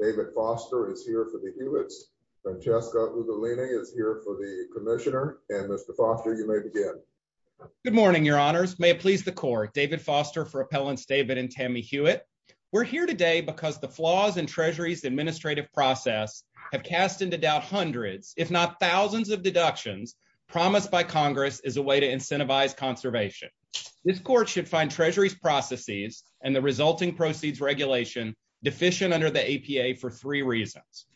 David Foster is here for the Hewitts. Francesca Lugolini is here for the Commissioner, and Mr. Foster, you may begin. Good morning, your honors. May it please the court, David Foster for Appellants David and Tammy Hewitt. We're here today because the of deductions promised by Congress as a way to incentivize conservation. This court should find Treasury's processes and the resulting proceeds regulation deficient under the APA for three reasons.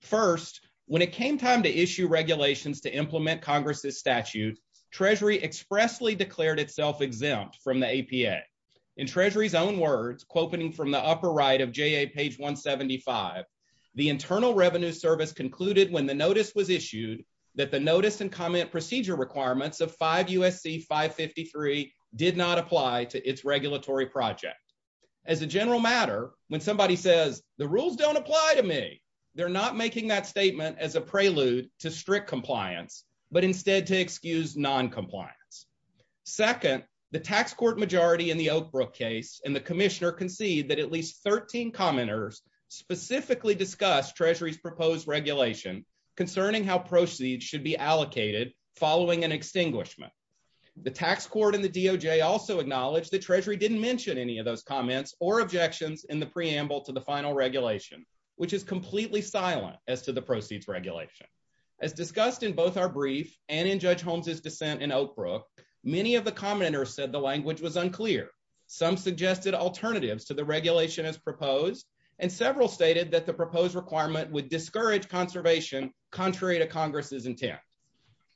First, when it came time to issue regulations to implement Congress's statute, Treasury expressly declared itself exempt from the APA. In Treasury's own words, quoting from the upper right of JA page 175, the Internal Revenue Service concluded when the notice was issued that the notice and comment procedure requirements of 5 USC 553 did not apply to its regulatory project. As a general matter, when somebody says the rules don't apply to me, they're not making that statement as a prelude to strict compliance, but instead to excuse noncompliance. Second, the tax court majority in the Oakbrook case and the Commissioner concede that at least 13 commenters specifically discussed Treasury's proposed regulation concerning how proceeds should be allocated following an extinguishment. The tax court and the DOJ also acknowledged that Treasury didn't mention any of those comments or objections in the preamble to the final regulation, which is completely silent as to the proceeds regulation. As discussed in both our brief and in Judge Holmes's dissent in Oakbrook, many of the commenters said the language was unclear. Some suggested alternatives to the regulation as proposed, and several stated that the proposed requirement would discourage conservation contrary to Congress's intent.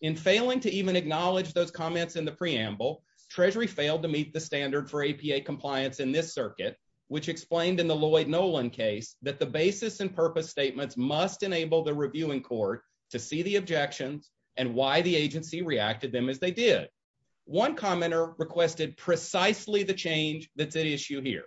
In failing to even acknowledge those comments in the preamble, Treasury failed to meet the standard for APA compliance in this circuit, which explained in the Lloyd Nolan case that the basis and purpose statements must enable the reviewing court to see the objections and why the agency reacted them as they did. One commenter requested precisely the change that's at issue here.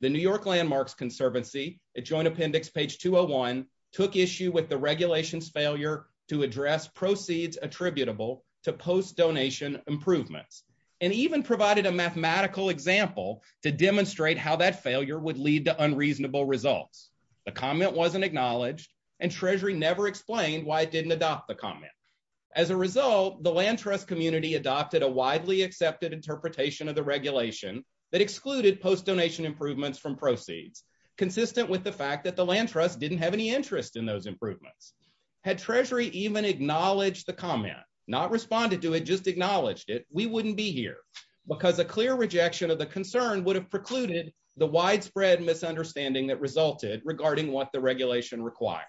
The New York Landmarks Conservancy, at Joint Appendix page 201, took issue with the regulation's failure to address proceeds attributable to post-donation improvements, and even provided a mathematical example to demonstrate how that failure would lead to unreasonable results. The comment wasn't acknowledged, and Treasury never explained why it didn't adopt the comment. As a result, the land trust community adopted a widely accepted interpretation of the regulation that excluded post-donation improvements from proceeds, consistent with the fact that the land trust didn't have any interest in those improvements. Had Treasury even acknowledged the comment, not responded to it, just acknowledged it, we wouldn't be here, because a clear rejection of the concern would have precluded the widespread misunderstanding that resulted regarding what the regulation required.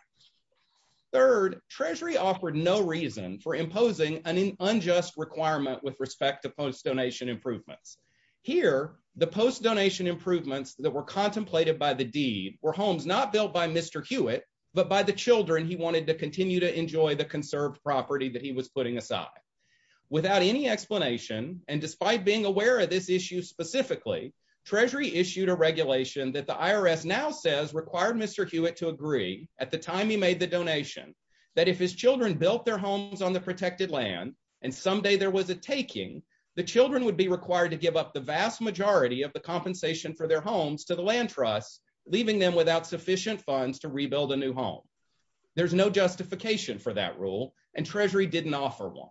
Third, Treasury offered no reason for imposing an unjust requirement with respect to post-donation improvements. Here, the post-donation improvements that were contemplated by the deed were homes not built by Mr. Hewitt, but by the children he wanted to continue to enjoy the conserved property that he was putting aside. Without any explanation, and despite being aware of this issue specifically, Treasury issued a regulation that the IRS now says required Mr. Hewitt to agree, at the time he made the donation, that if his children built their homes on the protected land, and someday there was a taking, the children would be required to give up the vast majority of the compensation for their homes to the land trust, leaving them without sufficient funds to rebuild a new home. There's no justification for that rule, and Treasury didn't offer one.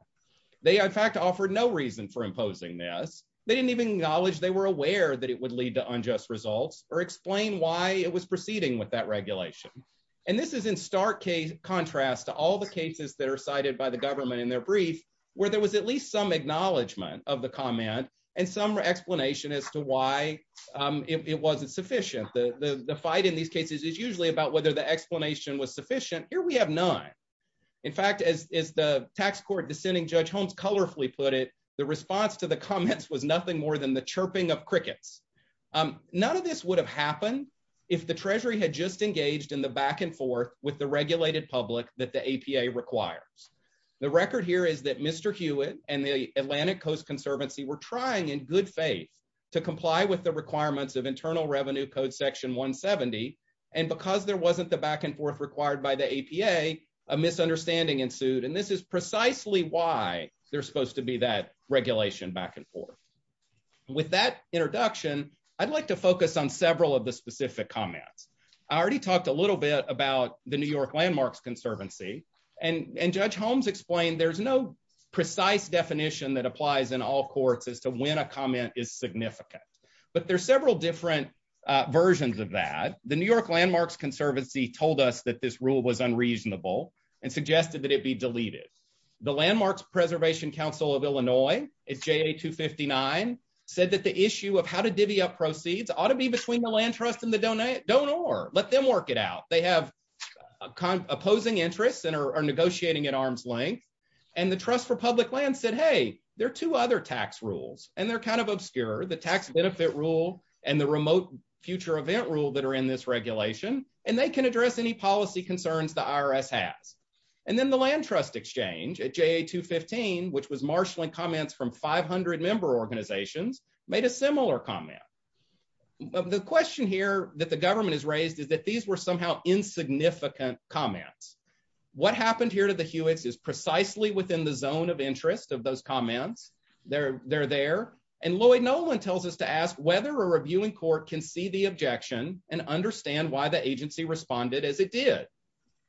They, in fact, offered no reason for imposing this. They didn't even acknowledge they were aware that it would lead to unjust results, or explain why it was proceeding with that regulation. And this is in stark contrast to all the cases that are cited by the government in their brief, where there was at least some acknowledgement of the comment, and some explanation as to why it wasn't sufficient. The fight in these cases is usually about whether the explanation was sufficient. Here, we have none. In fact, as the tax court dissenting Judge Holmes colorfully put it, the response to the comments was nothing more than the chirping of crickets. None of this would have happened if the Treasury had just engaged in the back and forth with the regulated public that the APA requires. The record here is that Mr. Hewitt and the Atlantic Coast Conservancy were trying, in good faith, to comply with the requirements of Internal Revenue Code Section 170, and because there wasn't the back and forth required by the APA, a misunderstanding ensued. And this is precisely why there's supposed to be that regulation back and forth. With that introduction, I'd like to focus on several of the specific comments. I already talked a little bit about the New York Landmarks Conservancy, and Judge Holmes explained there's no precise definition that applies in all courts as to when a comment is significant. But there's several different versions of that. The New York Landmarks Conservancy told us that this rule was unreasonable and suggested that it be deleted. The Landmarks Preservation Council of Illinois, it's JA 259, said that the issue of how to divvy up proceeds ought to be between the land trust and the donor. Let them work it out. They have opposing interests and are negotiating at arm's length. And the Trust for Public Land said, hey, there are two other tax rules, and they're kind of obscure, the tax benefit rule and the remote future event rule that are in this regulation, and they can address any policy concerns the IRS has. And then the Land Trust Exchange at JA 215, which was marshaling comments from 500 member organizations, made a similar comment. The question here that the government has raised is that these were somehow insignificant comments. What happened here to the Hewitts is precisely within the zone of interest of those comments. They're there. And Lloyd Nolan tells us to ask whether a reviewing court can see the the agency responded as it did.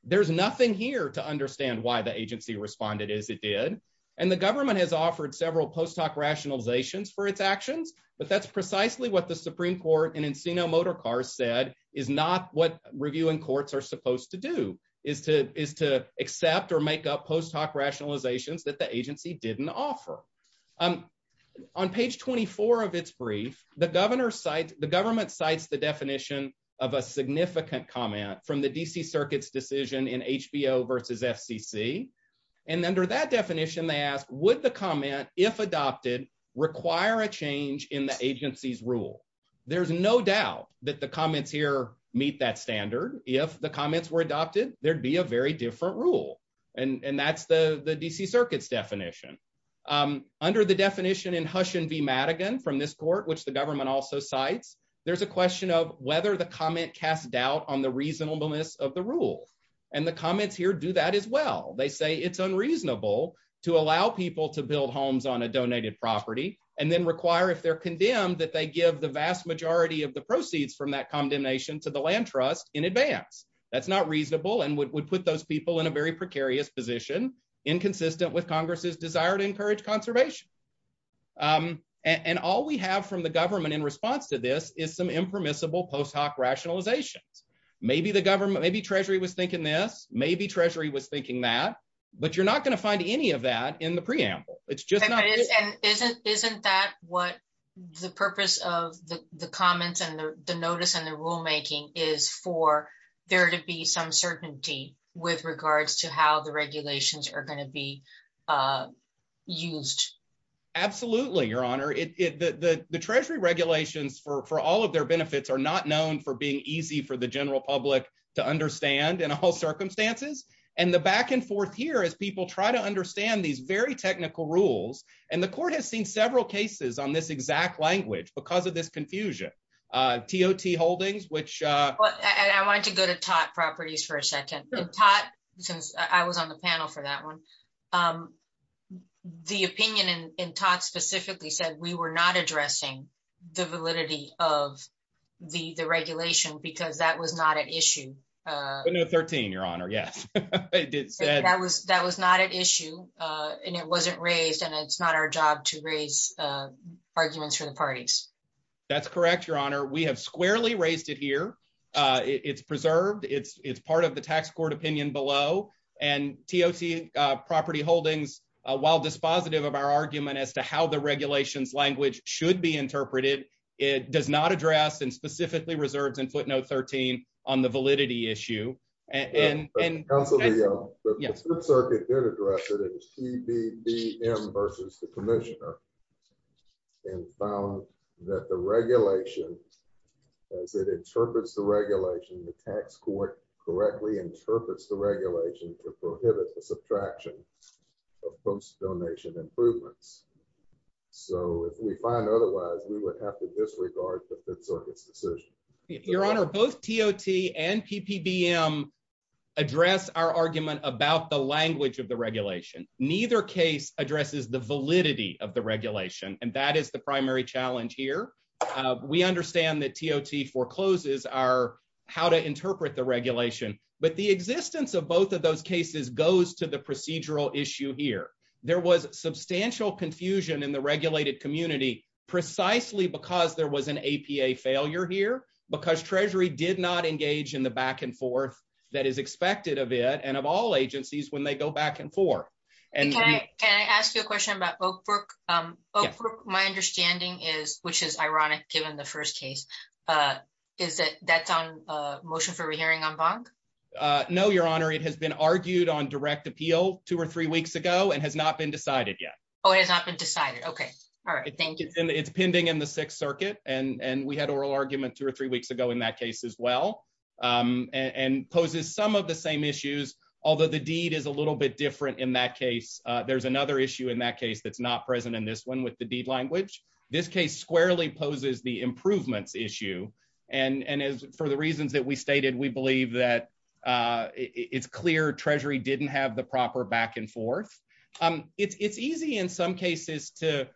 There's nothing here to understand why the agency responded as it did. And the government has offered several post hoc rationalizations for its actions. But that's precisely what the Supreme Court and Encino Motor Cars said is not what reviewing courts are supposed to do, is to accept or make up post hoc rationalizations that the agency didn't offer. On page 24 of its brief, the government cites the definition of a significant comment from the DC Circuit's decision in HBO versus FCC. And under that definition, they asked, would the comment, if adopted, require a change in the agency's rule? There's no doubt that the comments here meet that standard. If the comments were adopted, there'd be a very different rule. And that's the DC Circuit's definition. Under the definition in Hushon v. Madigan from this court, which the government also cites, there's a question of whether the comment casts doubt on the reasonableness of the rule. And the comments here do that as well. They say it's unreasonable to allow people to build homes on a donated property and then require if they're condemned that they give the vast majority of the proceeds from that condemnation to the land trust in advance. That's not reasonable and would put those people in a very precarious position, inconsistent with Congress's desire to encourage conservation. And all we have from the government in response to this is some impermissible post hoc rationalizations. Maybe the government, maybe Treasury was thinking this, maybe Treasury was thinking that, but you're not going to find any of that in the preamble. It's just not. Isn't that what the purpose of the comments and the notice and the rulemaking is for there to be some certainty with regards to how the regulations are going to be used? Absolutely, Your Honor. The Treasury regulations for all of their benefits are not known for being easy for the general public to understand in all circumstances. And the back and forth here is people try to understand these very technical rules. And the court has seen several cases on this exact language because of this confusion. T.O.T. Holdings, which... I want to go to T.O.T. properties for a second. T.O.T., since I was on the panel for that one, the opinion in T.O.T. specifically said we were not addressing the validity of the regulation because that was not an issue. But no 13, Your Honor. Yes. That was not an issue and it wasn't raised and it's not our job to raise arguments for the parties. That's correct, Your Honor. We have squarely raised it here. It's preserved. It's part of the tax court opinion below. And T.O.T. Property Holdings, while dispositive of our argument as to how the regulations language should be interpreted, it does not address and specifically reserves in footnote 13 on the validity issue. And also the circuit did address it as T.B.D.M. versus the commissioner and found that the regulation, as it interprets the regulation, the tax court correctly interprets the regulation to prohibit the subtraction of post-donation improvements. So if we find otherwise, we would have to disregard the circuit's decision. Your Honor, both T.O.T. and P.P.B.M. address our argument about the validity of the regulation, and that is the primary challenge here. We understand that T.O.T. forecloses are how to interpret the regulation, but the existence of both of those cases goes to the procedural issue here. There was substantial confusion in the regulated community precisely because there was an APA failure here, because Treasury did not engage in the back and forth that is expected of it and of all agencies when they go back and forth. And can I ask you a question about Oak Brook? Oak Brook, my understanding is, which is ironic given the first case, is that that's on motion for re-hearing on BOG? No, Your Honor. It has been argued on direct appeal two or three weeks ago and has not been decided yet. Oh, it has not been decided. Okay. All right. Thank you. It's pending in the Sixth Circuit, and we had oral argument two or three weeks ago in that case as well, and poses some of the same issues, although the deed is a little bit different in that case. There's another issue in that case that's not present in this one with the deed language. This case squarely poses the improvements issue, and for the reasons that we stated, we believe that it's clear Treasury didn't have the proper back and forth. It's easy in some cases to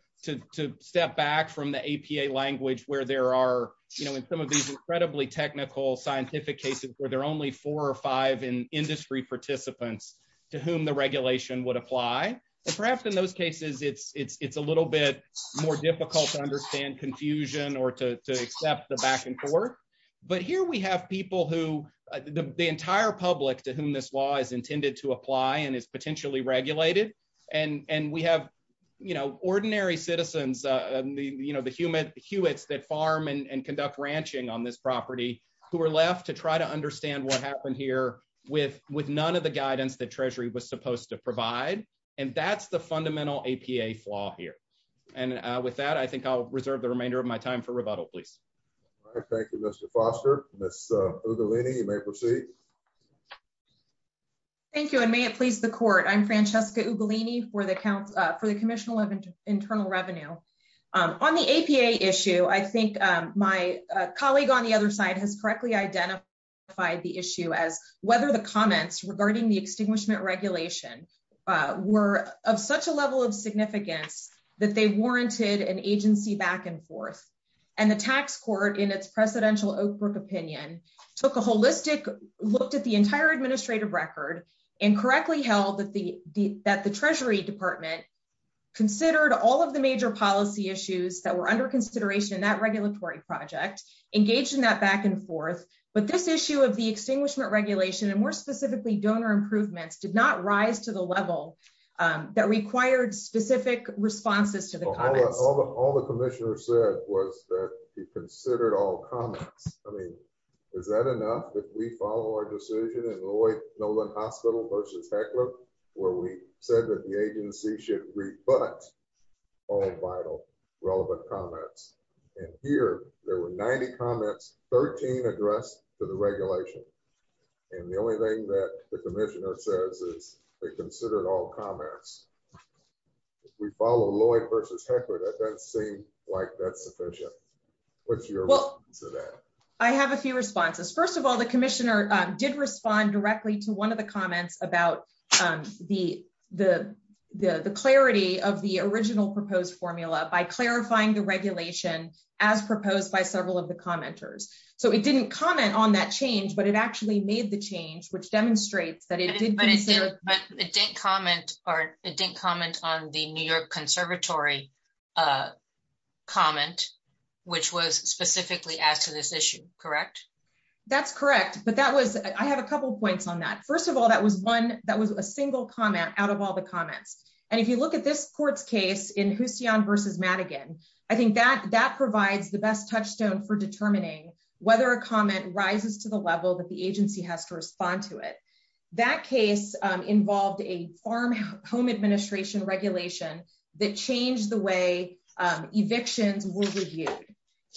step back from the APA language where there are, you know, in some of these incredibly technical scientific cases where there are only four or five industry participants to whom the regulation would apply, and perhaps in those cases it's a little bit more difficult to understand confusion or to accept the back and forth. But here we have people who, the entire public to whom this law is intended to apply and is potentially regulated, and we have, you know, ordinary citizens, you know, the Hewitts that farm and conduct ranching on this property who are left to try to understand what happened here with none of the guidance that Treasury was supposed to provide, and that's the fundamental APA flaw here. And with that, I think I'll reserve the remainder of my time for rebuttal, please. All right. Thank you, Mr. Foster. Ms. Ugolini, you may proceed. Thank you, and may it please the Court. I'm Francesca Ugolini for the Commission on Internal Revenue. On the APA issue, I think my colleague on the other side has correctly identified the issue as whether the comments regarding the extinguishment regulation were of such a level of significance that they warranted an agency back and forth, and the tax court in its presidential Oak Brook opinion took a holistic look at the entire administrative record and correctly held that the Treasury Department considered all of the major policy issues that were under consideration in that regulatory project, engaged in that back and forth, but this issue of the extinguishment regulation, and more specifically donor improvements, did not rise to the level that required specific responses to the comments. All the Commissioner said was that they considered all comments. I mean, is that enough that we follow our decision in Lloyd Nolan Hospital versus Heckler, where we said that the agency should rebut all vital relevant comments, and here there were 90 comments, 13 addressed to the regulation, and the only thing that the Commissioner says is they considered all comments. If we follow Lloyd versus Heckler, that doesn't seem like that's sufficient. What's your response to that? I have a few responses. First of all, the Commissioner did respond directly to one of the comments about the clarity of the original proposed formula by clarifying the regulation as proposed by several of the commenters. So it didn't comment on that change, but it actually made the change, which demonstrates that it did consider... It didn't comment on the New York Conservatory comment, which was specifically asked to this issue, correct? That's correct, but I have a couple of points on that. First of all, that was a single comment out of all the comments, and if you look at this court's case in Husion versus Madigan, I think that provides the best touchstone for determining whether a comment rises to the level that the farm home administration regulation that changed the way evictions were reviewed.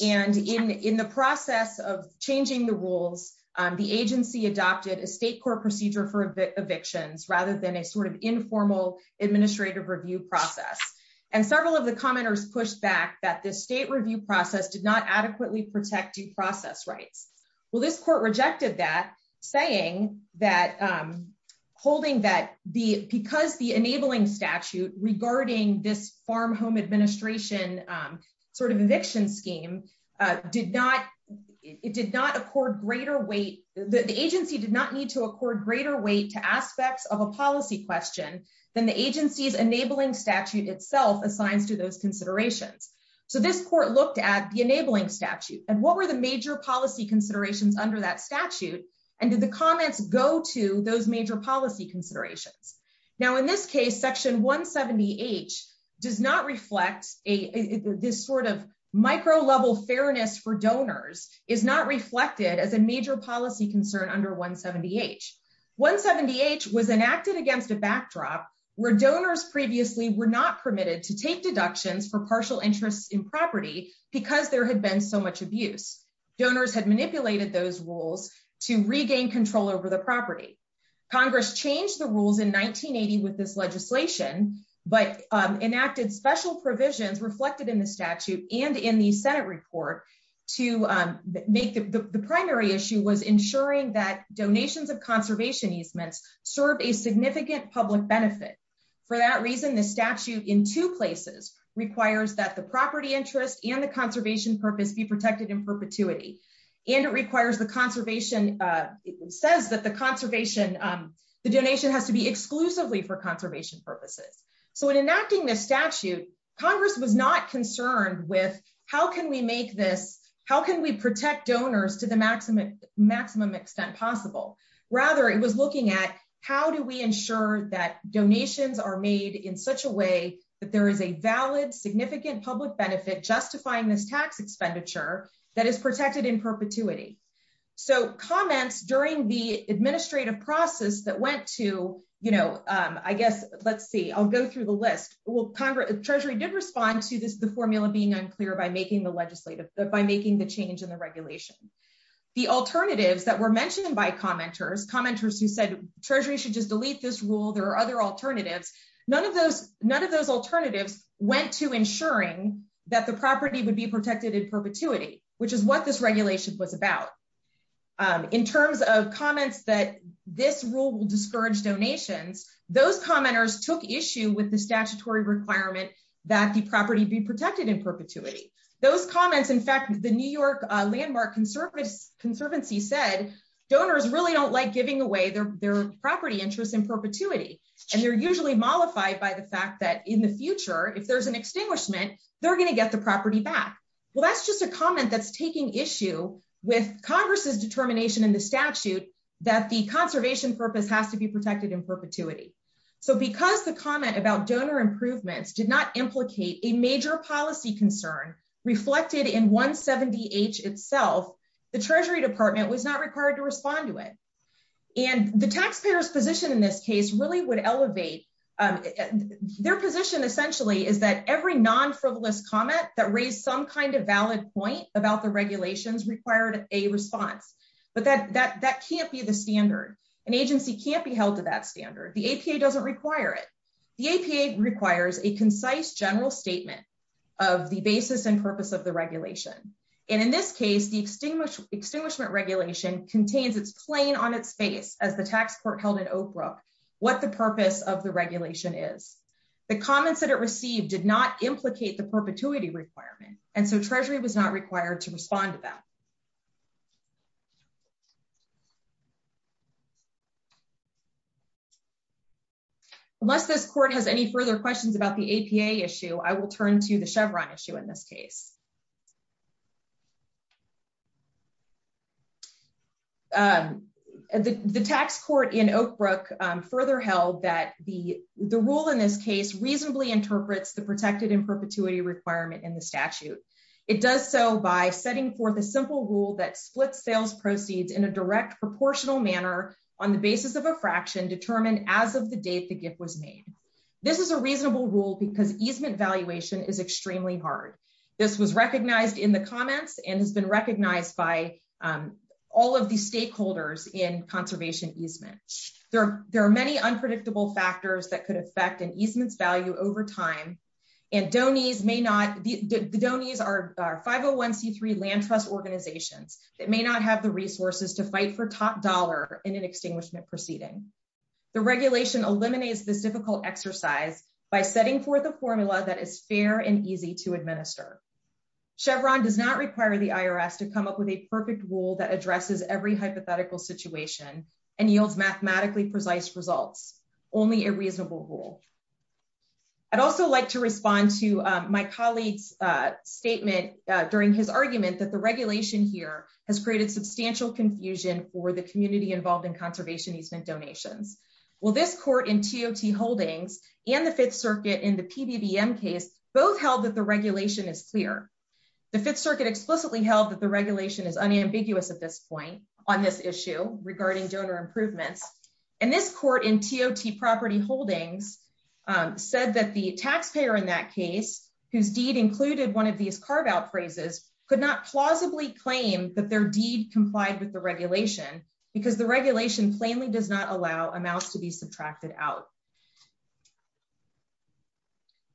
And in the process of changing the rules, the agency adopted a state court procedure for evictions rather than a sort of informal administrative review process. And several of the commenters pushed back that the state review process did not adequately protect due that... Holding that because the enabling statute regarding this farm home administration sort of eviction scheme did not... It did not accord greater weight... The agency did not need to accord greater weight to aspects of a policy question than the agency's enabling statute itself assigns to those considerations. So this court looked at the enabling statute, and what were the major policy considerations under that statute, and did the comments go to those major policy considerations? Now, in this case, section 170H does not reflect this sort of micro-level fairness for donors is not reflected as a major policy concern under 170H. 170H was enacted against a backdrop where donors previously were not permitted to take use. Donors had manipulated those rules to regain control over the property. Congress changed the rules in 1980 with this legislation, but enacted special provisions reflected in the statute and in the Senate report to make... The primary issue was ensuring that donations of conservation easements serve a significant public benefit. For that reason, the statute in two places requires that property interest and the conservation purpose be protected in perpetuity, and it requires the conservation... It says that the conservation... The donation has to be exclusively for conservation purposes. So in enacting this statute, Congress was not concerned with how can we make this... How can we protect donors to the maximum extent possible? Rather, it was looking at how do we benefit justifying this tax expenditure that is protected in perpetuity? So comments during the administrative process that went to... I guess, let's see. I'll go through the list. Treasury did respond to the formula being unclear by making the legislative... By making the change in the regulation. The alternatives that were mentioned by commenters, commenters who said, Treasury should just delete this rule. There are other alternatives. None of those alternatives went to ensuring that the property would be protected in perpetuity, which is what this regulation was about. In terms of comments that this rule will discourage donations, those commenters took issue with the statutory requirement that the property be protected in perpetuity. Those comments... In fact, the New York Landmark Conservancy said donors really don't like giving away their property interests in perpetuity, and they're usually mollified by the fact that in the future, if there's an extinguishment, they're going to get the property back. Well, that's just a comment that's taking issue with Congress's determination in the statute that the conservation purpose has to be protected in perpetuity. So because the comment about donor improvements did not implicate a major policy concern reflected in 170H itself, the Treasury Department was not required to respond to it. And the taxpayer's position in this case really would elevate... Their position essentially is that every non-frivolous comment that raised some kind of valid point about the regulations required a response. But that can't be the standard. An agency can't be held to that standard. The APA doesn't require it. The APA requires a concise general statement of the basis and purpose of the regulation. And in this case, the extinguishment regulation contains its plane on its face as the what the purpose of the regulation is. The comments that it received did not implicate the perpetuity requirement, and so Treasury was not required to respond to that. Unless this court has any further questions about the APA issue, I will turn to the Chevron issue in this case. The tax court in Oak Brook further held that the rule in this case reasonably interprets the protected in perpetuity requirement in the statute. It does so by setting forth a simple rule that splits sales proceeds in a direct proportional manner on the basis of a fraction determined as of the date the gift was made. This is a reasonable rule because easement valuation is extremely hard. This was recognized in the comments and has been recognized by all of the stakeholders in conservation easement. There are many unpredictable factors that could affect an easement's value over time, and the donees are 501c3 land trust organizations that may not have the resources to fight for top dollar in an extinguishment proceeding. The regulation eliminates this difficult exercise by setting forth a formula that is fair and easy to administer. Chevron does not require the IRS to come up with a perfect rule that addresses every hypothetical situation and yields mathematically precise results, only a reasonable rule. I'd also like to respond to my colleague's statement during his argument that the regulation here has created substantial confusion for the community involved in held that the regulation is clear. The fifth circuit explicitly held that the regulation is unambiguous at this point on this issue regarding donor improvements, and this court in TOT property holdings said that the taxpayer in that case, whose deed included one of these carve-out phrases, could not plausibly claim that their deed complied with the regulation because the regulation plainly does not allow amounts to be subtracted out.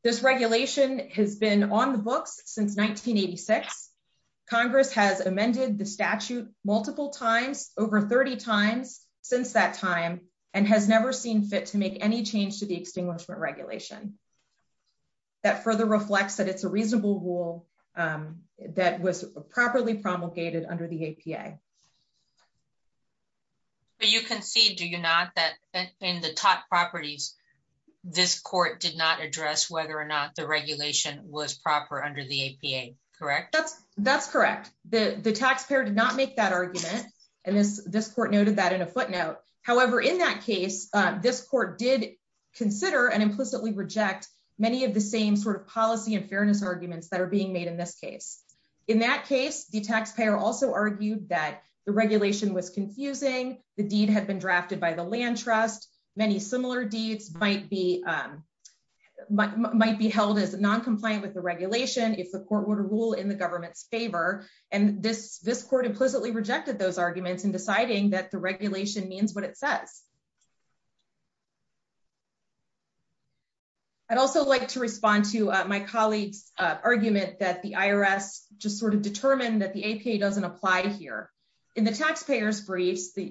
This regulation has been on the books since 1986. Congress has amended the statute multiple times, over 30 times since that time, and has never seen fit to make any change to the extinguishment regulation. That further reflects that it's a reasonable rule that was properly promulgated under the APA. You concede, do you not, that in the TOT properties, this court did not address whether or not the regulation was proper under the APA, correct? That's correct. The taxpayer did not make that argument, and this court noted that in a footnote. However, in that case, this court did consider and implicitly reject many of the same sort of policy and fairness arguments that are being made in this case. In that case, the taxpayer also argued that the regulation was confusing, the deed had been drafted by the land trust, many similar deeds might be held as non-compliant with the regulation if the court were to rule in the government's favor, and this court implicitly rejected those arguments in deciding that the regulation means what it says. I'd also like to respond to my colleague's argument that the IRS just sort of determined that the APA doesn't apply here. In the taxpayer's briefs, they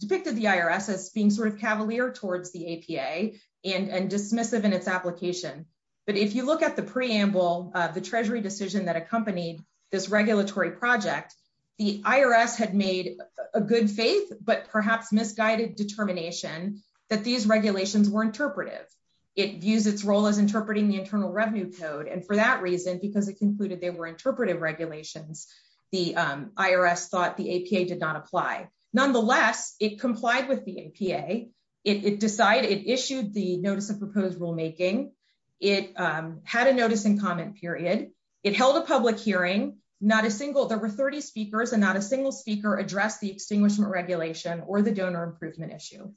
depicted the IRS as being sort of cavalier towards the APA and dismissive in its application, but if you look at the preamble, the treasury decision that accompanied this regulatory project, the IRS had a good faith but perhaps misguided determination that these regulations were interpretive. It views its role as interpreting the Internal Revenue Code, and for that reason, because it concluded they were interpretive regulations, the IRS thought the APA did not apply. Nonetheless, it complied with the APA. It issued the notice of proposed rulemaking. It had a notice and comment period. It held a public hearing. There were 30 speakers, and not a single speaker addressed the extinguishment regulation or the donor improvement issue.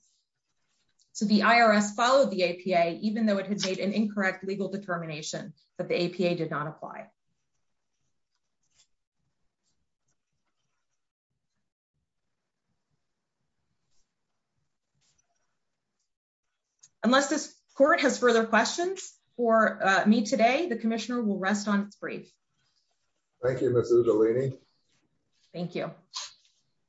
So the IRS followed the APA even though it had made an incorrect legal determination that the APA did not apply. Unless this court has rest on its brief. Thank you, Ms. Udalini. Thank you.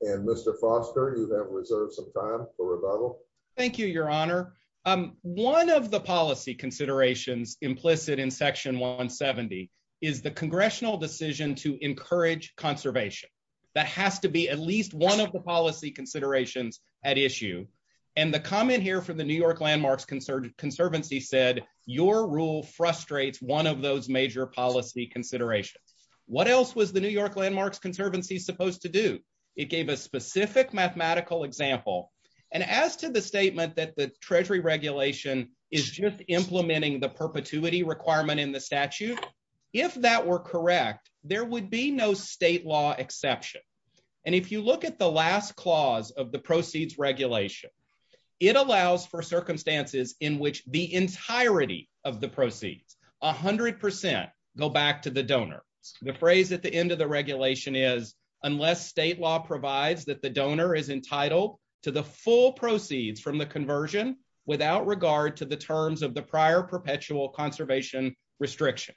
And Mr. Foster, you have reserved some time for rebuttal. Thank you, Your Honor. One of the policy considerations implicit in Section 170 is the congressional decision to encourage conservation. That has to be at least one of the policy considerations at issue, and the comment here from the New York Landmarks Conservancy said, your rule frustrates one of those major policy considerations. What else was the New York Landmarks Conservancy supposed to do? It gave a specific mathematical example, and as to the statement that the Treasury regulation is just implementing the perpetuity requirement in the statute, if that were correct, there would be no state law exception. And if you at the last clause of the proceeds regulation, it allows for circumstances in which the entirety of the proceeds, 100%, go back to the donor. The phrase at the end of the regulation is, unless state law provides that the donor is entitled to the full proceeds from the conversion without regard to the terms of the prior perpetual conservation restriction.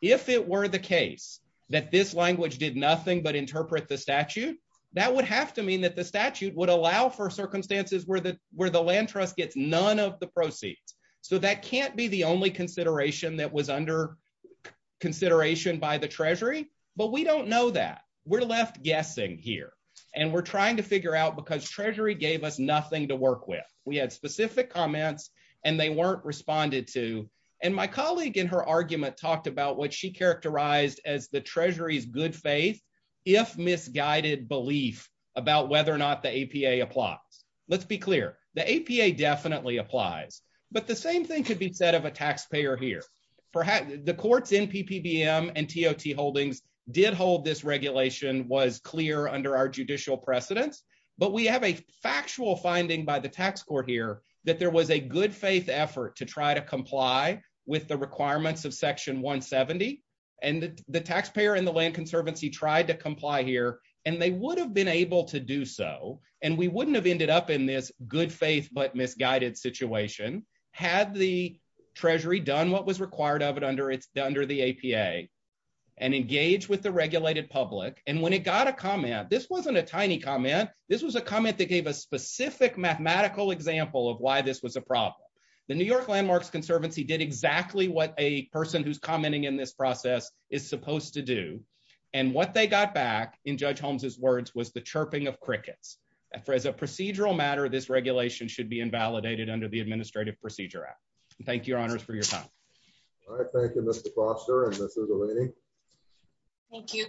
If it were the case that this language did nothing but interpret the statute, that would have to mean that the statute would allow for circumstances where the land trust gets none of the proceeds. So that can't be the only consideration that was under consideration by the Treasury, but we don't know that. We're left guessing here, and we're trying to figure out because Treasury gave us nothing to work with. We had specific comments, and they weren't responded to, and my colleague in her Treasury's good faith, if misguided belief about whether or not the APA applies. Let's be clear, the APA definitely applies, but the same thing could be said of a taxpayer here. The court's NPPBM and TOT holdings did hold this regulation was clear under our judicial precedence, but we have a factual finding by the tax court here that there was a good faith effort to try to comply with the land conservancy tried to comply here, and they would have been able to do so, and we wouldn't have ended up in this good faith but misguided situation had the Treasury done what was required of it under its under the APA and engage with the regulated public, and when it got a comment, this wasn't a tiny comment. This was a comment that gave a specific mathematical example of why this was a problem. The New York Landmarks Conservancy did exactly what a person who's commenting in this process is supposed to do, and what they got back in Judge Holmes's words was the chirping of crickets. As a procedural matter, this regulation should be invalidated under the Administrative Procedure Act. Thank you, Your Honors, for your time. All right. Thank you, Mr. Foster, and Mrs. Eleni. Thank you.